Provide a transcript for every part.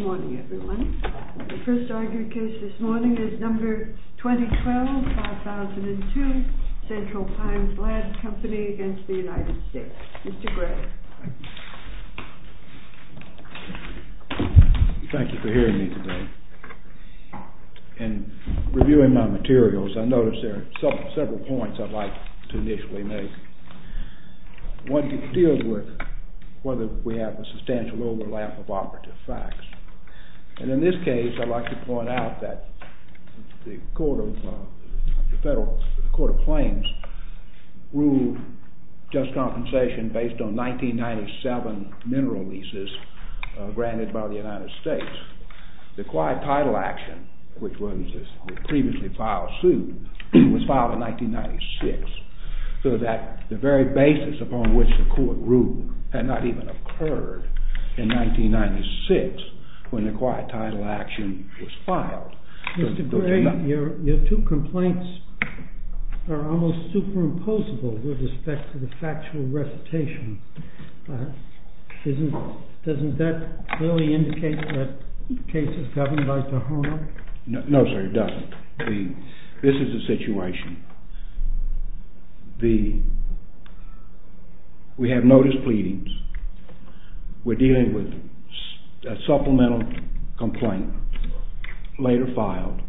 Thank you for hearing me today. In reviewing my materials, I noticed there are several points I'd like to initially make. One deals with whether we have a substantial overlap of operative facts. And in this case, I'd like to point out that the Court of Claims ruled just compensation based on 1997 mineral leases granted by the United States. The quiet title action, which was the previously filed suit, was filed in 1996. So that the very basis upon which the Court ruled had not even occurred in 1996 when the quiet title action was filed. Mr. Gray, your two complaints are almost superimposable with respect to the factual recitation. Doesn't that clearly indicate that the case is governed by Tahoma? No, sir, it doesn't. This is the situation. We have notice pleadings. We're dealing with a supplemental complaint later filed.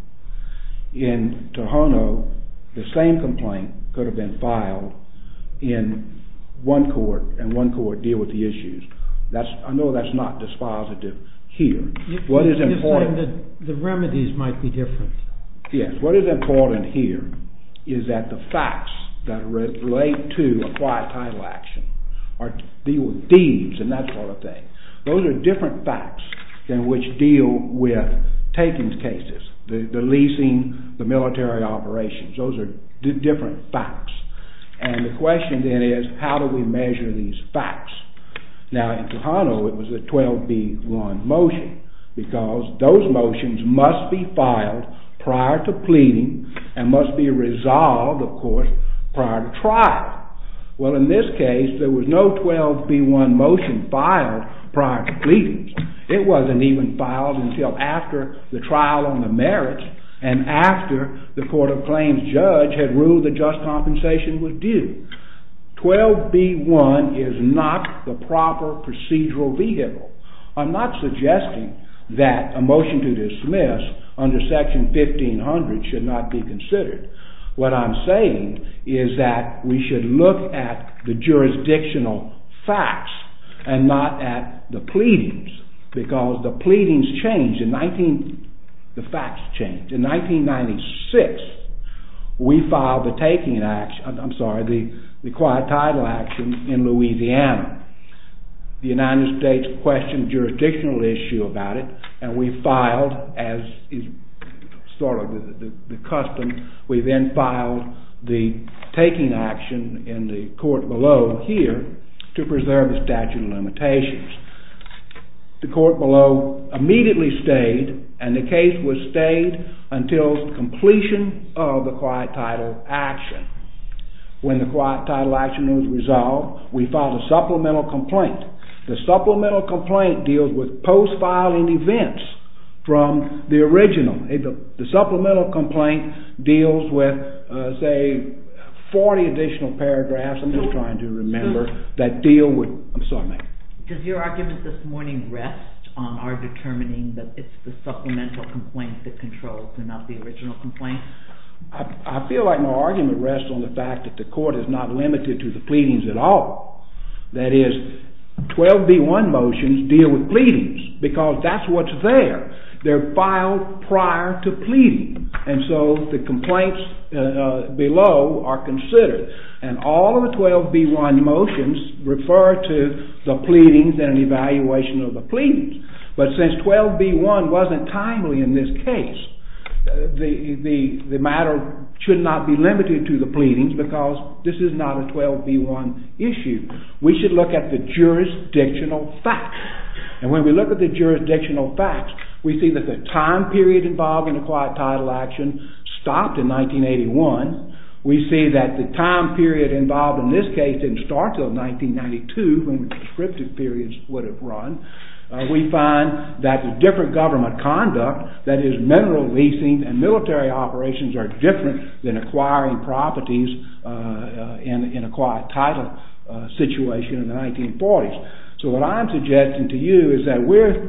In Tohono, the same complaint could have been filed in one court and one court deal with the issues. I know that's not dispositive here. You're saying that the remedies might be different. Yes. What is important here is that the facts that relate to a quiet title action are dealing with thieves and that sort of thing. Those are different facts than which deal with takings cases, the leasing, the military operations. Those are different facts. And the question then is, how do we measure these facts? Now, in Tohono, it was a 12B1 motion, because those motions must be filed prior to pleading and must be resolved, of course, prior to trial. Well, in this case, there was no 12B1 motion filed prior to pleadings. It wasn't even filed until after the trial on the merits and after the court of claims judge had ruled that just compensation was due. 12B1 is not the proper procedural vehicle. I'm not suggesting that a motion to dismiss under section 1500 should not be considered. What I'm saying is that we should look at the jurisdictional facts and not at the pleadings. Because the pleadings changed, the facts changed. In 1996, we filed the quiet title action in Louisiana. The United States questioned jurisdictional issue about it, and we filed, as is sort of the custom, we then filed the taking action in the court below here to preserve the statute of limitations. The court below immediately stayed, and the case was stayed until completion of the quiet title action. When the quiet title action was resolved, we filed a supplemental complaint. The supplemental complaint deals with post-filing events from the original. The supplemental complaint deals with, say, 40 additional paragraphs, I'm just trying to remember, that deal with… I'm sorry, ma'am. Does your argument this morning rest on our determining that it's the supplemental complaint that controls and not the original complaint? I feel like my argument rests on the fact that the court is not limited to the pleadings at all. That is, 12B1 motions deal with pleadings, because that's what's there. They're filed prior to pleading, and so the complaints below are considered. And all of the 12B1 motions refer to the pleadings and an evaluation of the pleadings. But since 12B1 wasn't timely in this case, the matter should not be limited to the pleadings, because this is not a 12B1 issue. We should look at the jurisdictional facts. And when we look at the jurisdictional facts, we see that the time period involved in a quiet title action stopped in 1981. We see that the time period involved in this case didn't start until 1992, when the prescriptive periods would have run. We find that the different government conduct, that is, mineral leasing and military operations are different than acquiring properties in a quiet title situation in the 1940s. So what I'm suggesting to you is that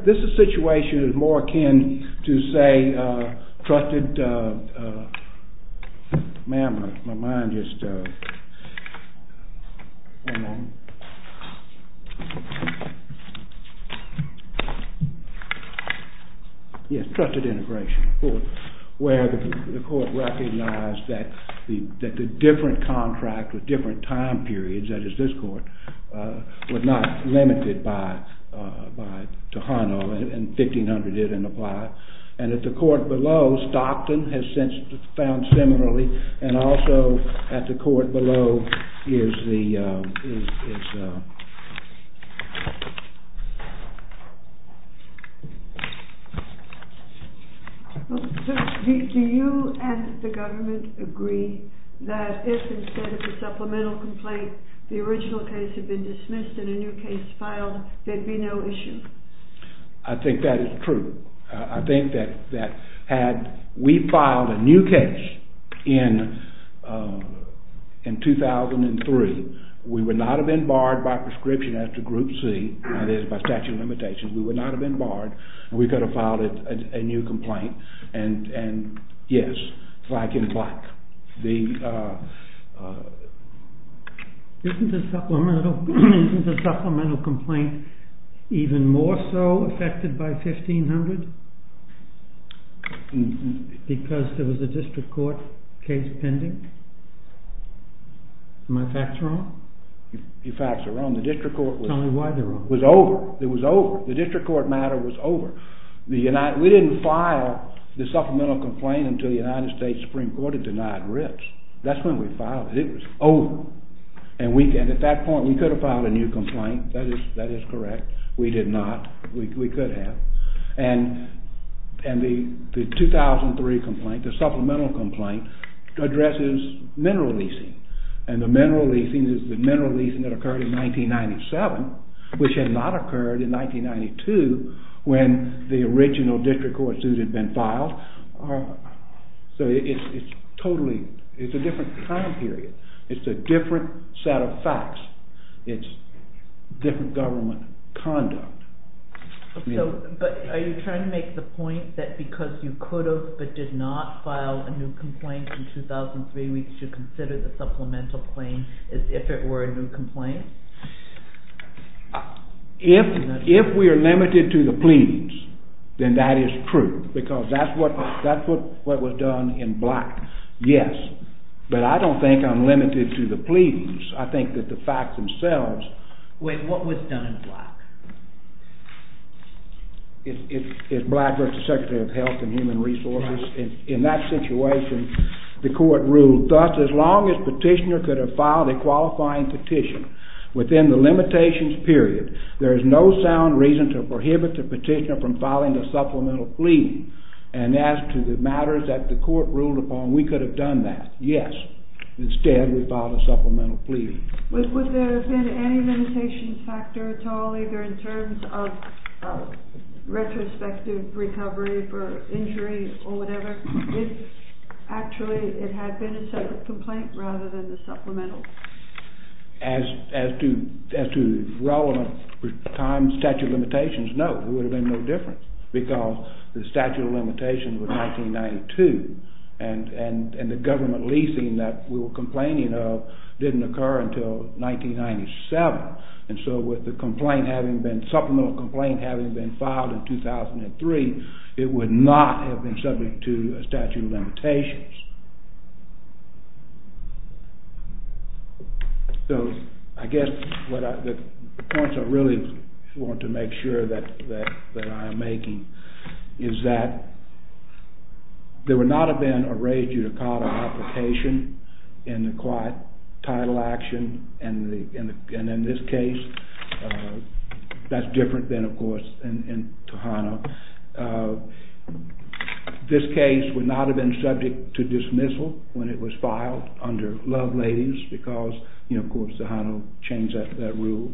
this is a situation that is more akin to, say, trusted integration, where the court recognized that the different contract with different time periods, that is, this court, was not limited by Tohono, and 1500 didn't apply. And at the court below, Stockton has since found similarly, and also at the court below is the... Do you and the government agree that if instead of a supplemental complaint, the original case had been dismissed and a new case filed, there'd be no issue? I think that is true. I think that had we filed a new case in 2003, we would not have been barred by prescription after Group C, that is, by statute of limitations. We would not have been barred, and we could have filed a new complaint, and yes, black and black. Isn't the supplemental complaint even more so affected by 1500? Because there was a district court case pending? Are my facts wrong? Your facts are wrong. The district court was over. It was over. The district court matter was over. We didn't file the supplemental complaint until the United States Supreme Court had denied ribs. That's when we filed it. It was over. And at that point we could have filed a new complaint. That is correct. We did not. We could have. And the 2003 complaint, the supplemental complaint, addresses mineral leasing. And the mineral leasing is the mineral leasing that occurred in 1997, which had not occurred in 1992 when the original district court suit had been filed. So it's totally, it's a different time period. It's a different set of facts. It's different government conduct. But are you trying to make the point that because you could have but did not file a new complaint in 2003, we should consider the supplemental claim as if it were a new complaint? If we are limited to the pleadings, then that is true, because that's what was done in black. Yes. But I don't think I'm limited to the pleadings. I think that the facts themselves… Wait, what was done in black? It's black versus Secretary of Health and Human Resources. In that situation, the court ruled, thus, as long as petitioner could have filed a qualifying petition within the limitations period, there is no sound reason to prohibit the petitioner from filing a supplemental plea. And as to the matters that the court ruled upon, we could have done that. Yes. Instead, we filed a supplemental plea. Was there been any limitations factor at all, either in terms of retrospective recovery for injury or whatever? Actually, it had been a separate complaint rather than the supplemental? As to the relevant statute of limitations, no, there would have been no difference, because the statute of limitations was 1992, and the government leasing that we were complaining of didn't occur until 1997. And so, with the supplemental complaint having been filed in 2003, it would not have been subject to statute of limitations. So, I guess the points I really want to make sure that I am making is that there would not have been a raised-judicata application in the quiet title action, and in this case, that's different than, of course, in Tohono. This case would not have been subject to dismissal when it was filed under Loved Ladies, because, you know, of course, Tohono changed that rule.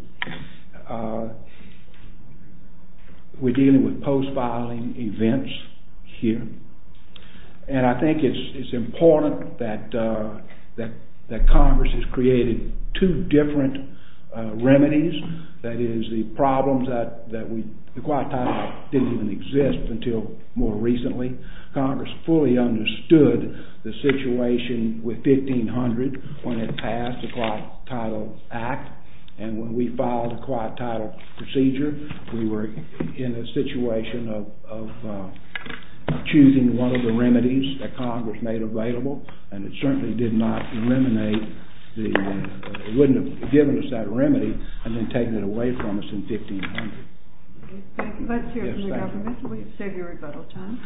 We're dealing with post-filing events here, and I think it's important that Congress has created two different remedies, that is, the problems that the Quiet Title Act didn't even exist until more recently. Congress fully understood the situation with 1500 when it passed the Quiet Title Act, and when we filed the Quiet Title Procedure, we were in a situation of choosing one of the remedies that Congress made available, and it certainly did not eliminate the—it wouldn't have given us that remedy and then taken it away from us in 1500. Thank you. Let's hear from the government, and we'll save you rebuttal time.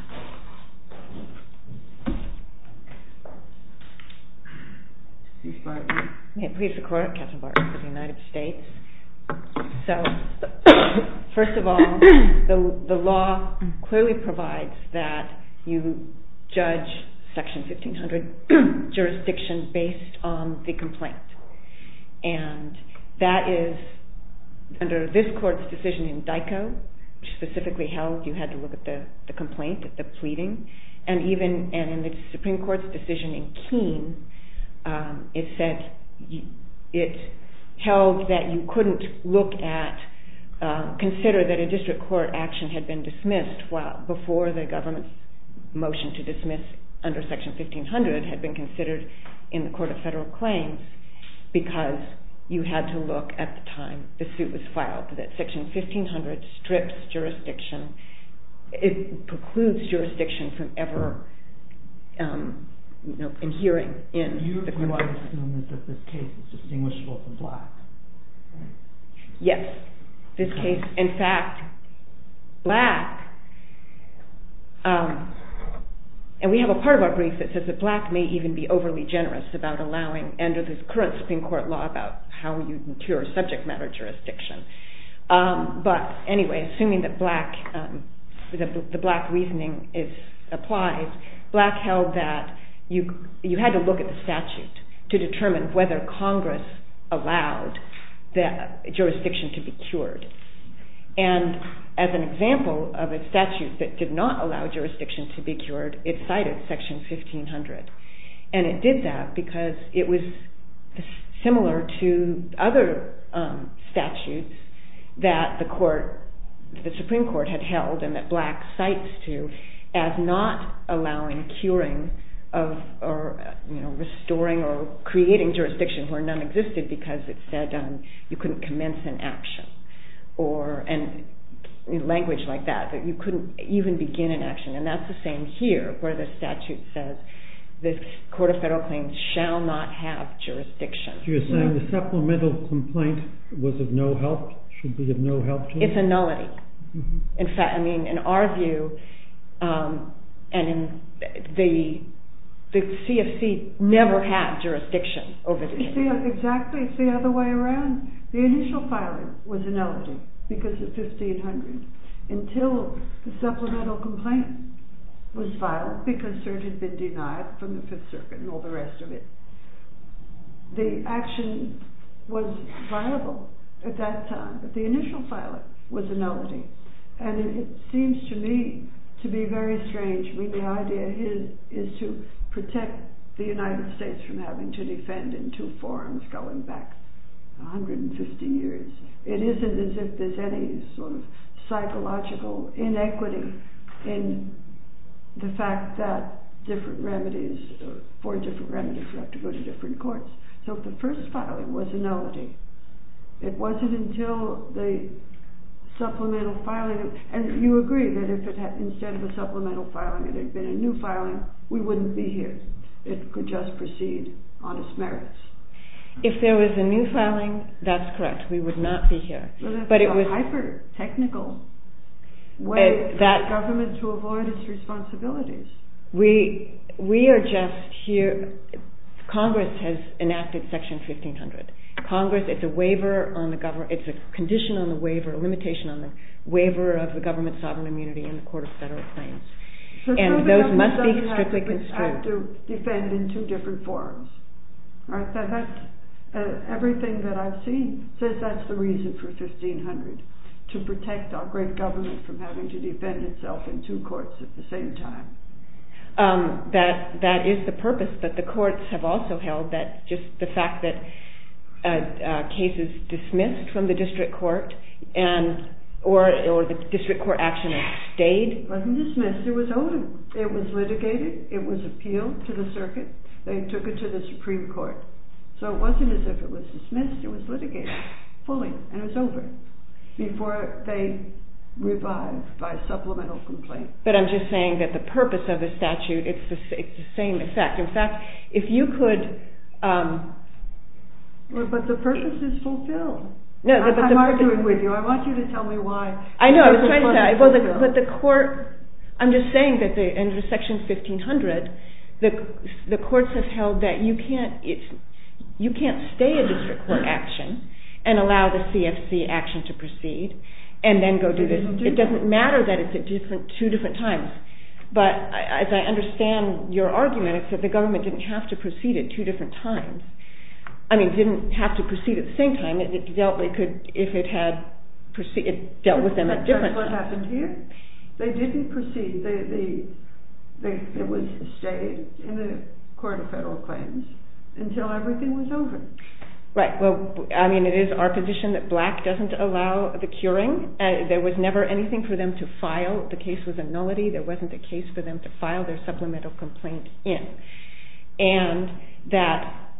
Please file your— May it please the Court, Katherine Barton for the United States. So, first of all, the law clearly provides that you judge Section 1500 jurisdiction based on the complaint, and that is, under this Court's decision in DICO, which specifically held you had to look at the complaint, at the pleading, and even in the Supreme Court's decision in Keene, it said—it held that you couldn't look at—consider that a district court action had been dismissed before the government's motion to dismiss under Section 1500 had been considered in the Court of Federal Claims, because you had to look at the time the suit was filed. Section 1500 strips jurisdiction—it precludes jurisdiction from ever, you know, adhering in the court. You want to assume that this case is distinguishable from Black? Yes, this case—in fact, Black—and we have a part of our brief that says that Black may even be overly generous about allowing under this current Supreme Court law about how you secure subject matter jurisdiction. But, anyway, assuming that Black—the Black reasoning is applied, Black held that you had to look at the statute to determine whether Congress allowed the jurisdiction to be cured. And as an example of a statute that did not allow jurisdiction to be cured, it cited Section 1500, and it did that because it was similar to other statutes that the Supreme Court had held and that Black cites to as not allowing curing or restoring or creating jurisdiction where none existed because it said you couldn't commence an action. Or—and language like that, that you couldn't even begin an action, and that's the same here where the statute says the Court of Federal Claims shall not have jurisdiction. You're saying the supplemental complaint was of no help, should be of no help to you? It's a nullity. In fact, I mean, in our view, the CFC never had jurisdiction over the case. It's the—exactly, it's the other way around. The initial filing was a nullity because of 1500 until the supplemental complaint was filed because cert had been denied from the Fifth Circuit and all the rest of it. The action was viable at that time, but the initial filing was a nullity, and it seems to me to be very strange. I mean, the idea here is to protect the United States from having to defend in two forms going back 150 years. It isn't as if there's any sort of psychological inequity in the fact that different remedies, four different remedies, have to go to different courts. So if the first filing was a nullity, it wasn't until the supplemental filing—and you agree that if instead of a supplemental filing there had been a new filing, we wouldn't be here. It could just proceed on its merits. If there was a new filing, that's correct. We would not be here. But it's a hyper-technical way for the government to avoid its responsibilities. We are just here—Congress has enacted Section 1500. Congress, it's a waiver on the—it's a condition on the waiver, a limitation on the waiver of the government's sovereign immunity in the Court of Federal Claims. And those must be strictly constricted. So the government doesn't have to defend in two different forms. Everything that I've seen says that's the reason for 1500, to protect our great government from having to defend itself in two courts at the same time. That is the purpose, but the courts have also held that just the fact that cases dismissed from the district court and—or the district court action stayed— it was litigated, it was appealed to the circuit, they took it to the Supreme Court. So it wasn't as if it was dismissed, it was litigated fully, and it was over before they revived by supplemental complaint. But I'm just saying that the purpose of the statute, it's the same effect. In fact, if you could— But the purpose is fulfilled. No, but the— I'm arguing with you. I want you to tell me why. I know, I was trying to—but the court—I'm just saying that under section 1500, the courts have held that you can't—you can't stay a district court action and allow the CFC action to proceed and then go do this. It doesn't matter that it's at two different times. But as I understand your argument, it's that the government didn't have to proceed at two different times. I mean, didn't have to proceed at the same time, and it dealt—they could—if it had—it dealt with them at different times. That's what happened here. They didn't proceed. They—it was stayed in the court of federal claims until everything was over. Right. Well, I mean, it is our position that black doesn't allow the curing. There was never anything for them to file. The case was a nullity. There wasn't a case for them to file their supplemental complaint in. And that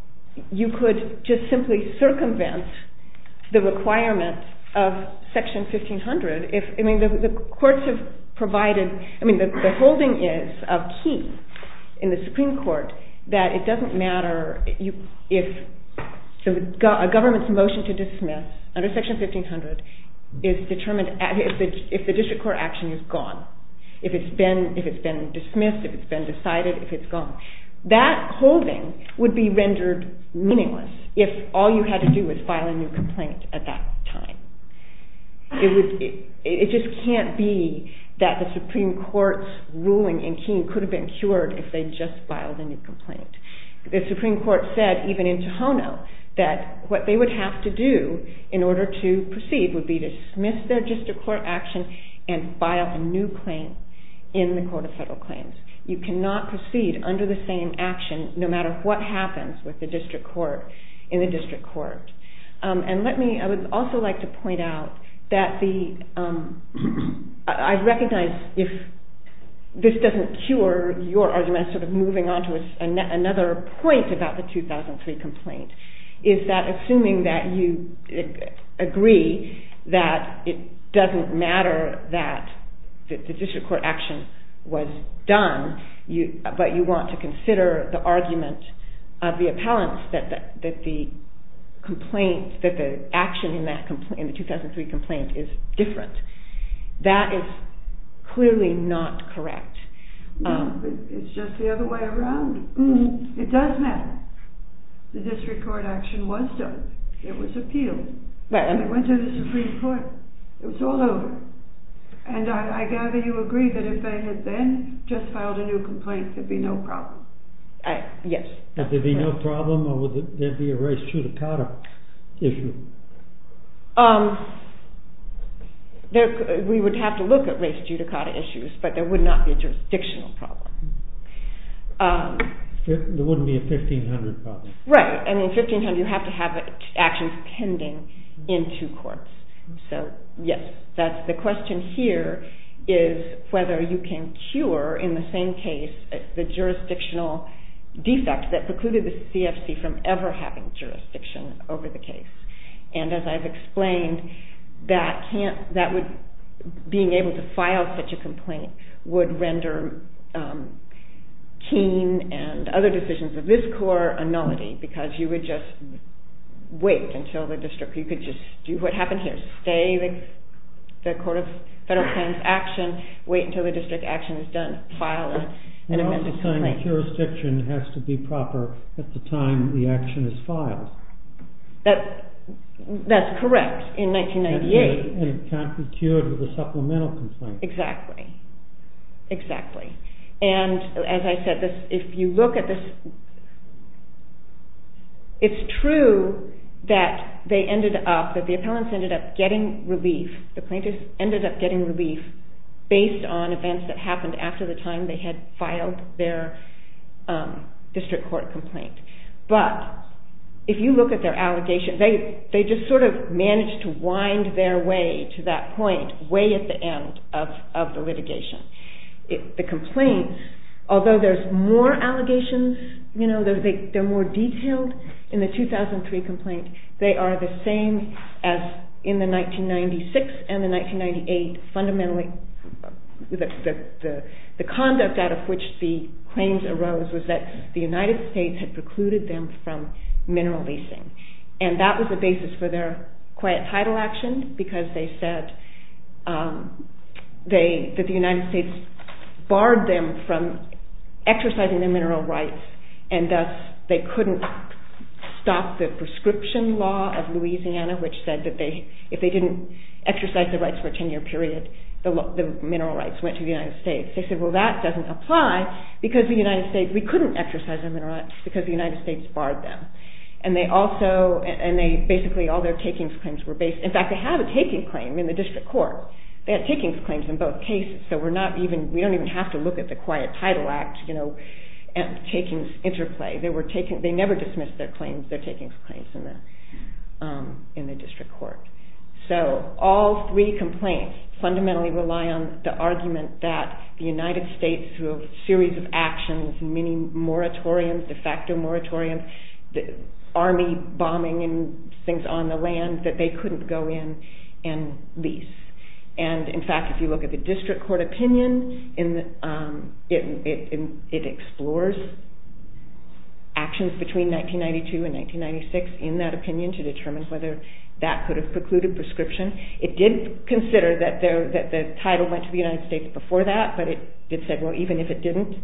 you could just simply circumvent the requirement of section 1500 if—I mean, the courts have provided—I mean, the holding is of key in the Supreme Court that it doesn't matter if a government's motion to dismiss under section 1500 is determined—if the district court action is gone. If it's been—if it's been dismissed, if it's been decided, if it's gone. That holding would be rendered meaningless if all you had to do was file a new complaint at that time. It would—it just can't be that the Supreme Court's ruling in Keene could have been cured if they just filed a new complaint. The Supreme Court said, even in Tohono, that what they would have to do in order to proceed would be to dismiss their district court action and file a new claim in the Court of Federal Claims. You cannot proceed under the same action no matter what happens with the district court in the district court. And let me—I would also like to point out that the—I recognize if this doesn't cure your argument, another point about the 2003 complaint is that assuming that you agree that it doesn't matter that the district court action was done, but you want to consider the argument of the appellants that the complaint—that the action in the 2003 complaint is different. That is clearly not correct. It's just the other way around. It does matter. The district court action was done. It was appealed. It went to the Supreme Court. It was all over. And I gather you agree that if they had then just filed a new complaint, there'd be no problem. Yes. Would there be no problem or would there be a race judicata issue? We would have to look at race judicata issues, but there would not be a jurisdictional problem. There wouldn't be a 1500 problem. Right. And in 1500, you have to have actions pending in two courts. So, yes, that's the question here is whether you can cure, in the same case, the jurisdictional defect that precluded the CFC from ever having jurisdiction over the case. And as I've explained, being able to file such a complaint would render Keene and other decisions of this court a nullity because you would just wait until the district—you could just do what happened here. Stay the court of federal plans action, wait until the district action is done, file an amended complaint. And all the time the jurisdiction has to be proper at the time the action is filed. That's correct, in 1998. And it can't be cured with a supplemental complaint. Exactly. Exactly. And, as I said, if you look at this, it's true that they ended up, that the appellants ended up getting relief, the plaintiffs ended up getting relief based on events that happened after the time they had filed their district court complaint. But, if you look at their allegations, they just sort of managed to wind their way to that point, way at the end of the litigation. The complaints, although there's more allegations, you know, they're more detailed. In the 2003 complaint, they are the same as in the 1996 and the 1998 fundamentally, the conduct out of which the claims arose was that the United States had precluded them from mineral leasing. And that was the basis for their quiet title action because they said that the United States barred them from exercising their mineral rights and thus they couldn't stop the prescription law of Louisiana which said that if they didn't exercise their rights for a 10 year period, the mineral rights went to the United States. They said, well that doesn't apply because the United States, we couldn't exercise our mineral rights because the United States barred them. And they also, and they basically, all their takings claims were based, in fact they have a taking claim in the district court. They had takings claims in both cases so we're not even, we don't even have to look at the quiet title act, you know, takings interplay. They were taking, they never dismissed their claims, their takings claims in the district court. So all three complaints fundamentally rely on the argument that the United States through a series of actions, many moratoriums, de facto moratoriums, army bombing and things on the land that they couldn't go in and lease. And in fact if you look at the district court opinion, it explores actions between 1992 and 1996 in that opinion to determine whether that could have precluded prescription. It did consider that the title went to the United States before that but it said, well even if it didn't,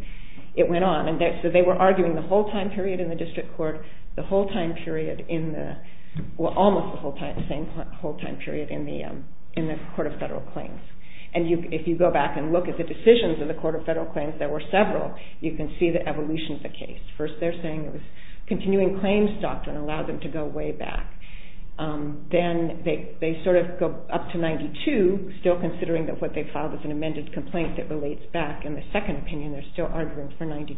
it went on. So they were arguing the whole time period in the district court, the whole time period in the, well almost the whole time period in the court of federal claims. And if you go back and look at the decisions in the court of federal claims, there were several, you can see the evolution of the case. First they're saying it was continuing claims doctrine allowed them to go way back. Then they sort of go up to 92, still considering that what they filed was an amended complaint that relates back in the second opinion, they're still arguing for 92.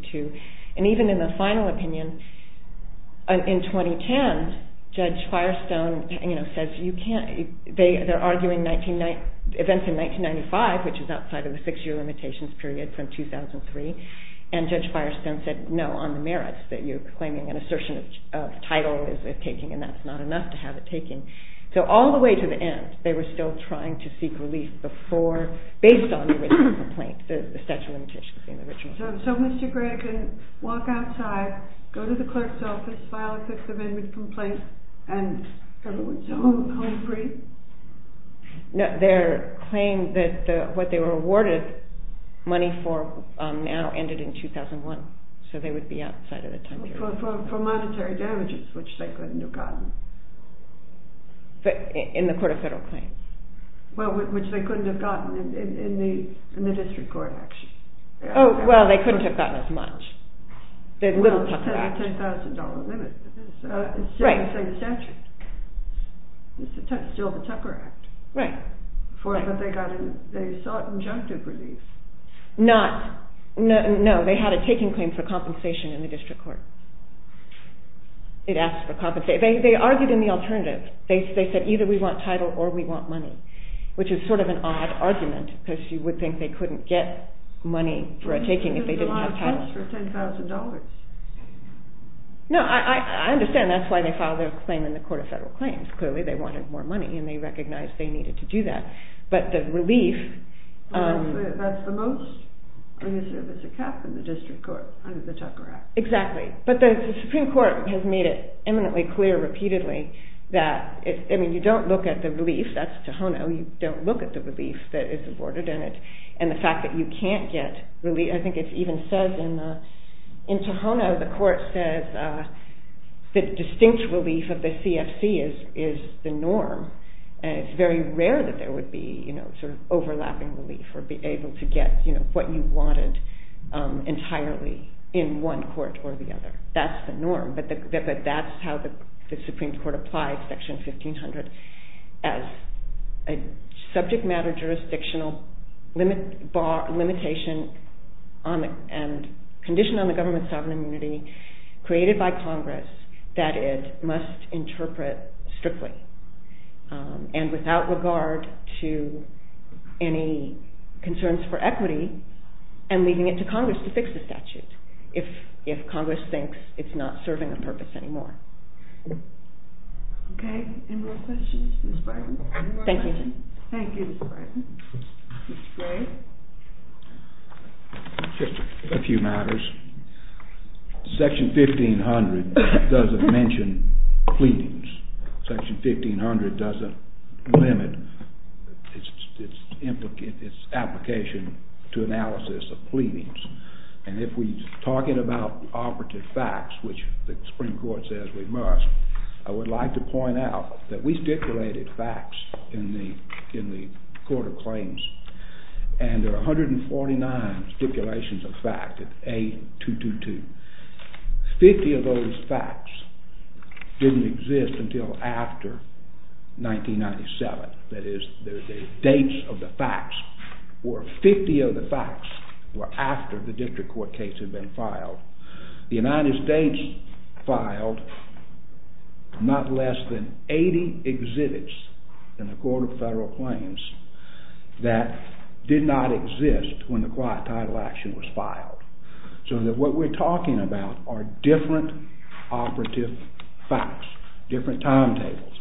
And even in the final opinion in 2010, Judge Firestone says you can't, they're arguing events in 1995 which is outside of the six year limitations period from 2003. And Judge Firestone said no on the merits that you're claiming an assertion of title is it taking and that's not enough to have it taking. So all the way to the end, they were still trying to seek relief before, based on the original complaint, the statute of limitations in the original. So Mr. Gregg can walk outside, go to the clerk's office, file a sixth amendment complaint and everyone's home free? No, their claim that what they were awarded money for now ended in 2001, so they would be outside of the time period. For monetary damages which they couldn't have gotten? In the court of federal claims. Well which they couldn't have gotten in the district court actually. Oh well they couldn't have gotten as much. Well they had a $10,000 limit. Right. It's still the Tucker Act. Right. But they sought injunctive relief. Not, no, they had a taking claim for compensation in the district court. They argued in the alternative. They said either we want title or we want money, which is sort of an odd argument because you would think they couldn't get money for a taking if they didn't have title. But they asked for $10,000. No, I understand that's why they filed their claim in the court of federal claims. Clearly they wanted more money and they recognized they needed to do that. But the relief. That's the most, I guess there's a cap in the district court under the Tucker Act. Exactly. But the Supreme Court has made it eminently clear repeatedly that, I mean you don't look at the relief, that's Tohono, you don't look at the relief that is awarded in it. And the fact that you can't get relief, I think it even says in Tohono, the court says that distinct relief of the CFC is the norm. And it's very rare that there would be sort of overlapping relief or be able to get what you wanted entirely in one court or the other. That's the norm. But that's how the Supreme Court applied Section 1500 as a subject matter jurisdictional limitation and condition on the government's sovereign immunity created by Congress that it must interpret strictly. And without regard to any concerns for equity and leaving it to Congress to fix the statute if Congress thinks it's not serving a purpose anymore. Okay, any more questions? Thank you. Thank you, Ms. Brighton. Ms. Gray. Just a few matters. Section 1500 doesn't mention pleadings. Section 1500 doesn't limit its application to analysis of pleadings. And if we're talking about operative facts, which the Supreme Court says we must, I would like to point out that we stipulated facts in the Court of Claims. And there are 149 stipulations of fact, A222. Fifty of those facts didn't exist until after 1997. That is, the dates of the facts were 50 of the facts were after the district court case had been filed. The United States filed not less than 80 exhibits in the Court of Federal Claims that did not exist when the quiet title action was filed. So that what we're talking about are different operative facts, different timetables.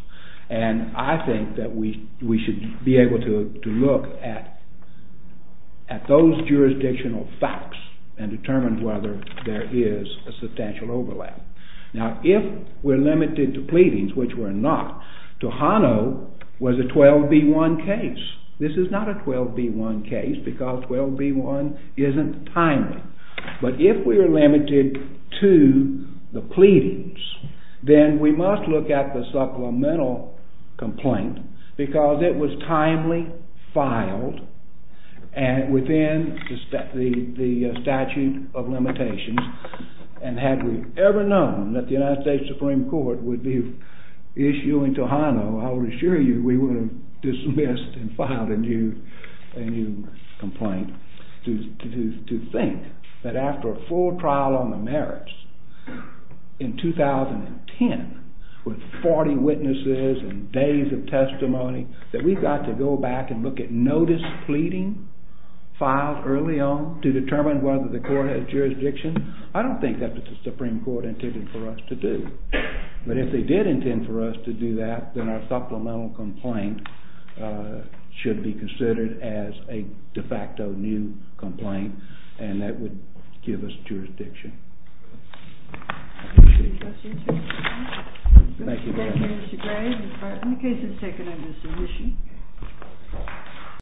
And I think that we should be able to look at those jurisdictional facts and determine whether there is a substantial overlap. Now, if we're limited to pleadings, which we're not, Tohono was a 12B1 case. This is not a 12B1 case because 12B1 isn't timely. But if we're limited to the pleadings, then we must look at the supplemental complaint because it was timely filed within the statute of limitations. And had we ever known that the United States Supreme Court would be issuing Tohono, I will assure you we would have dismissed and filed a new complaint. To think that after a full trial on the merits in 2010, with 40 witnesses and days of testimony, that we've got to go back and look at notice pleading filed early on to determine whether the court has jurisdiction, I don't think that's what the Supreme Court intended for us to do. But if they did intend for us to do that, then our supplemental complaint should be considered as a de facto new complaint, and that would give us jurisdiction. Thank you very much.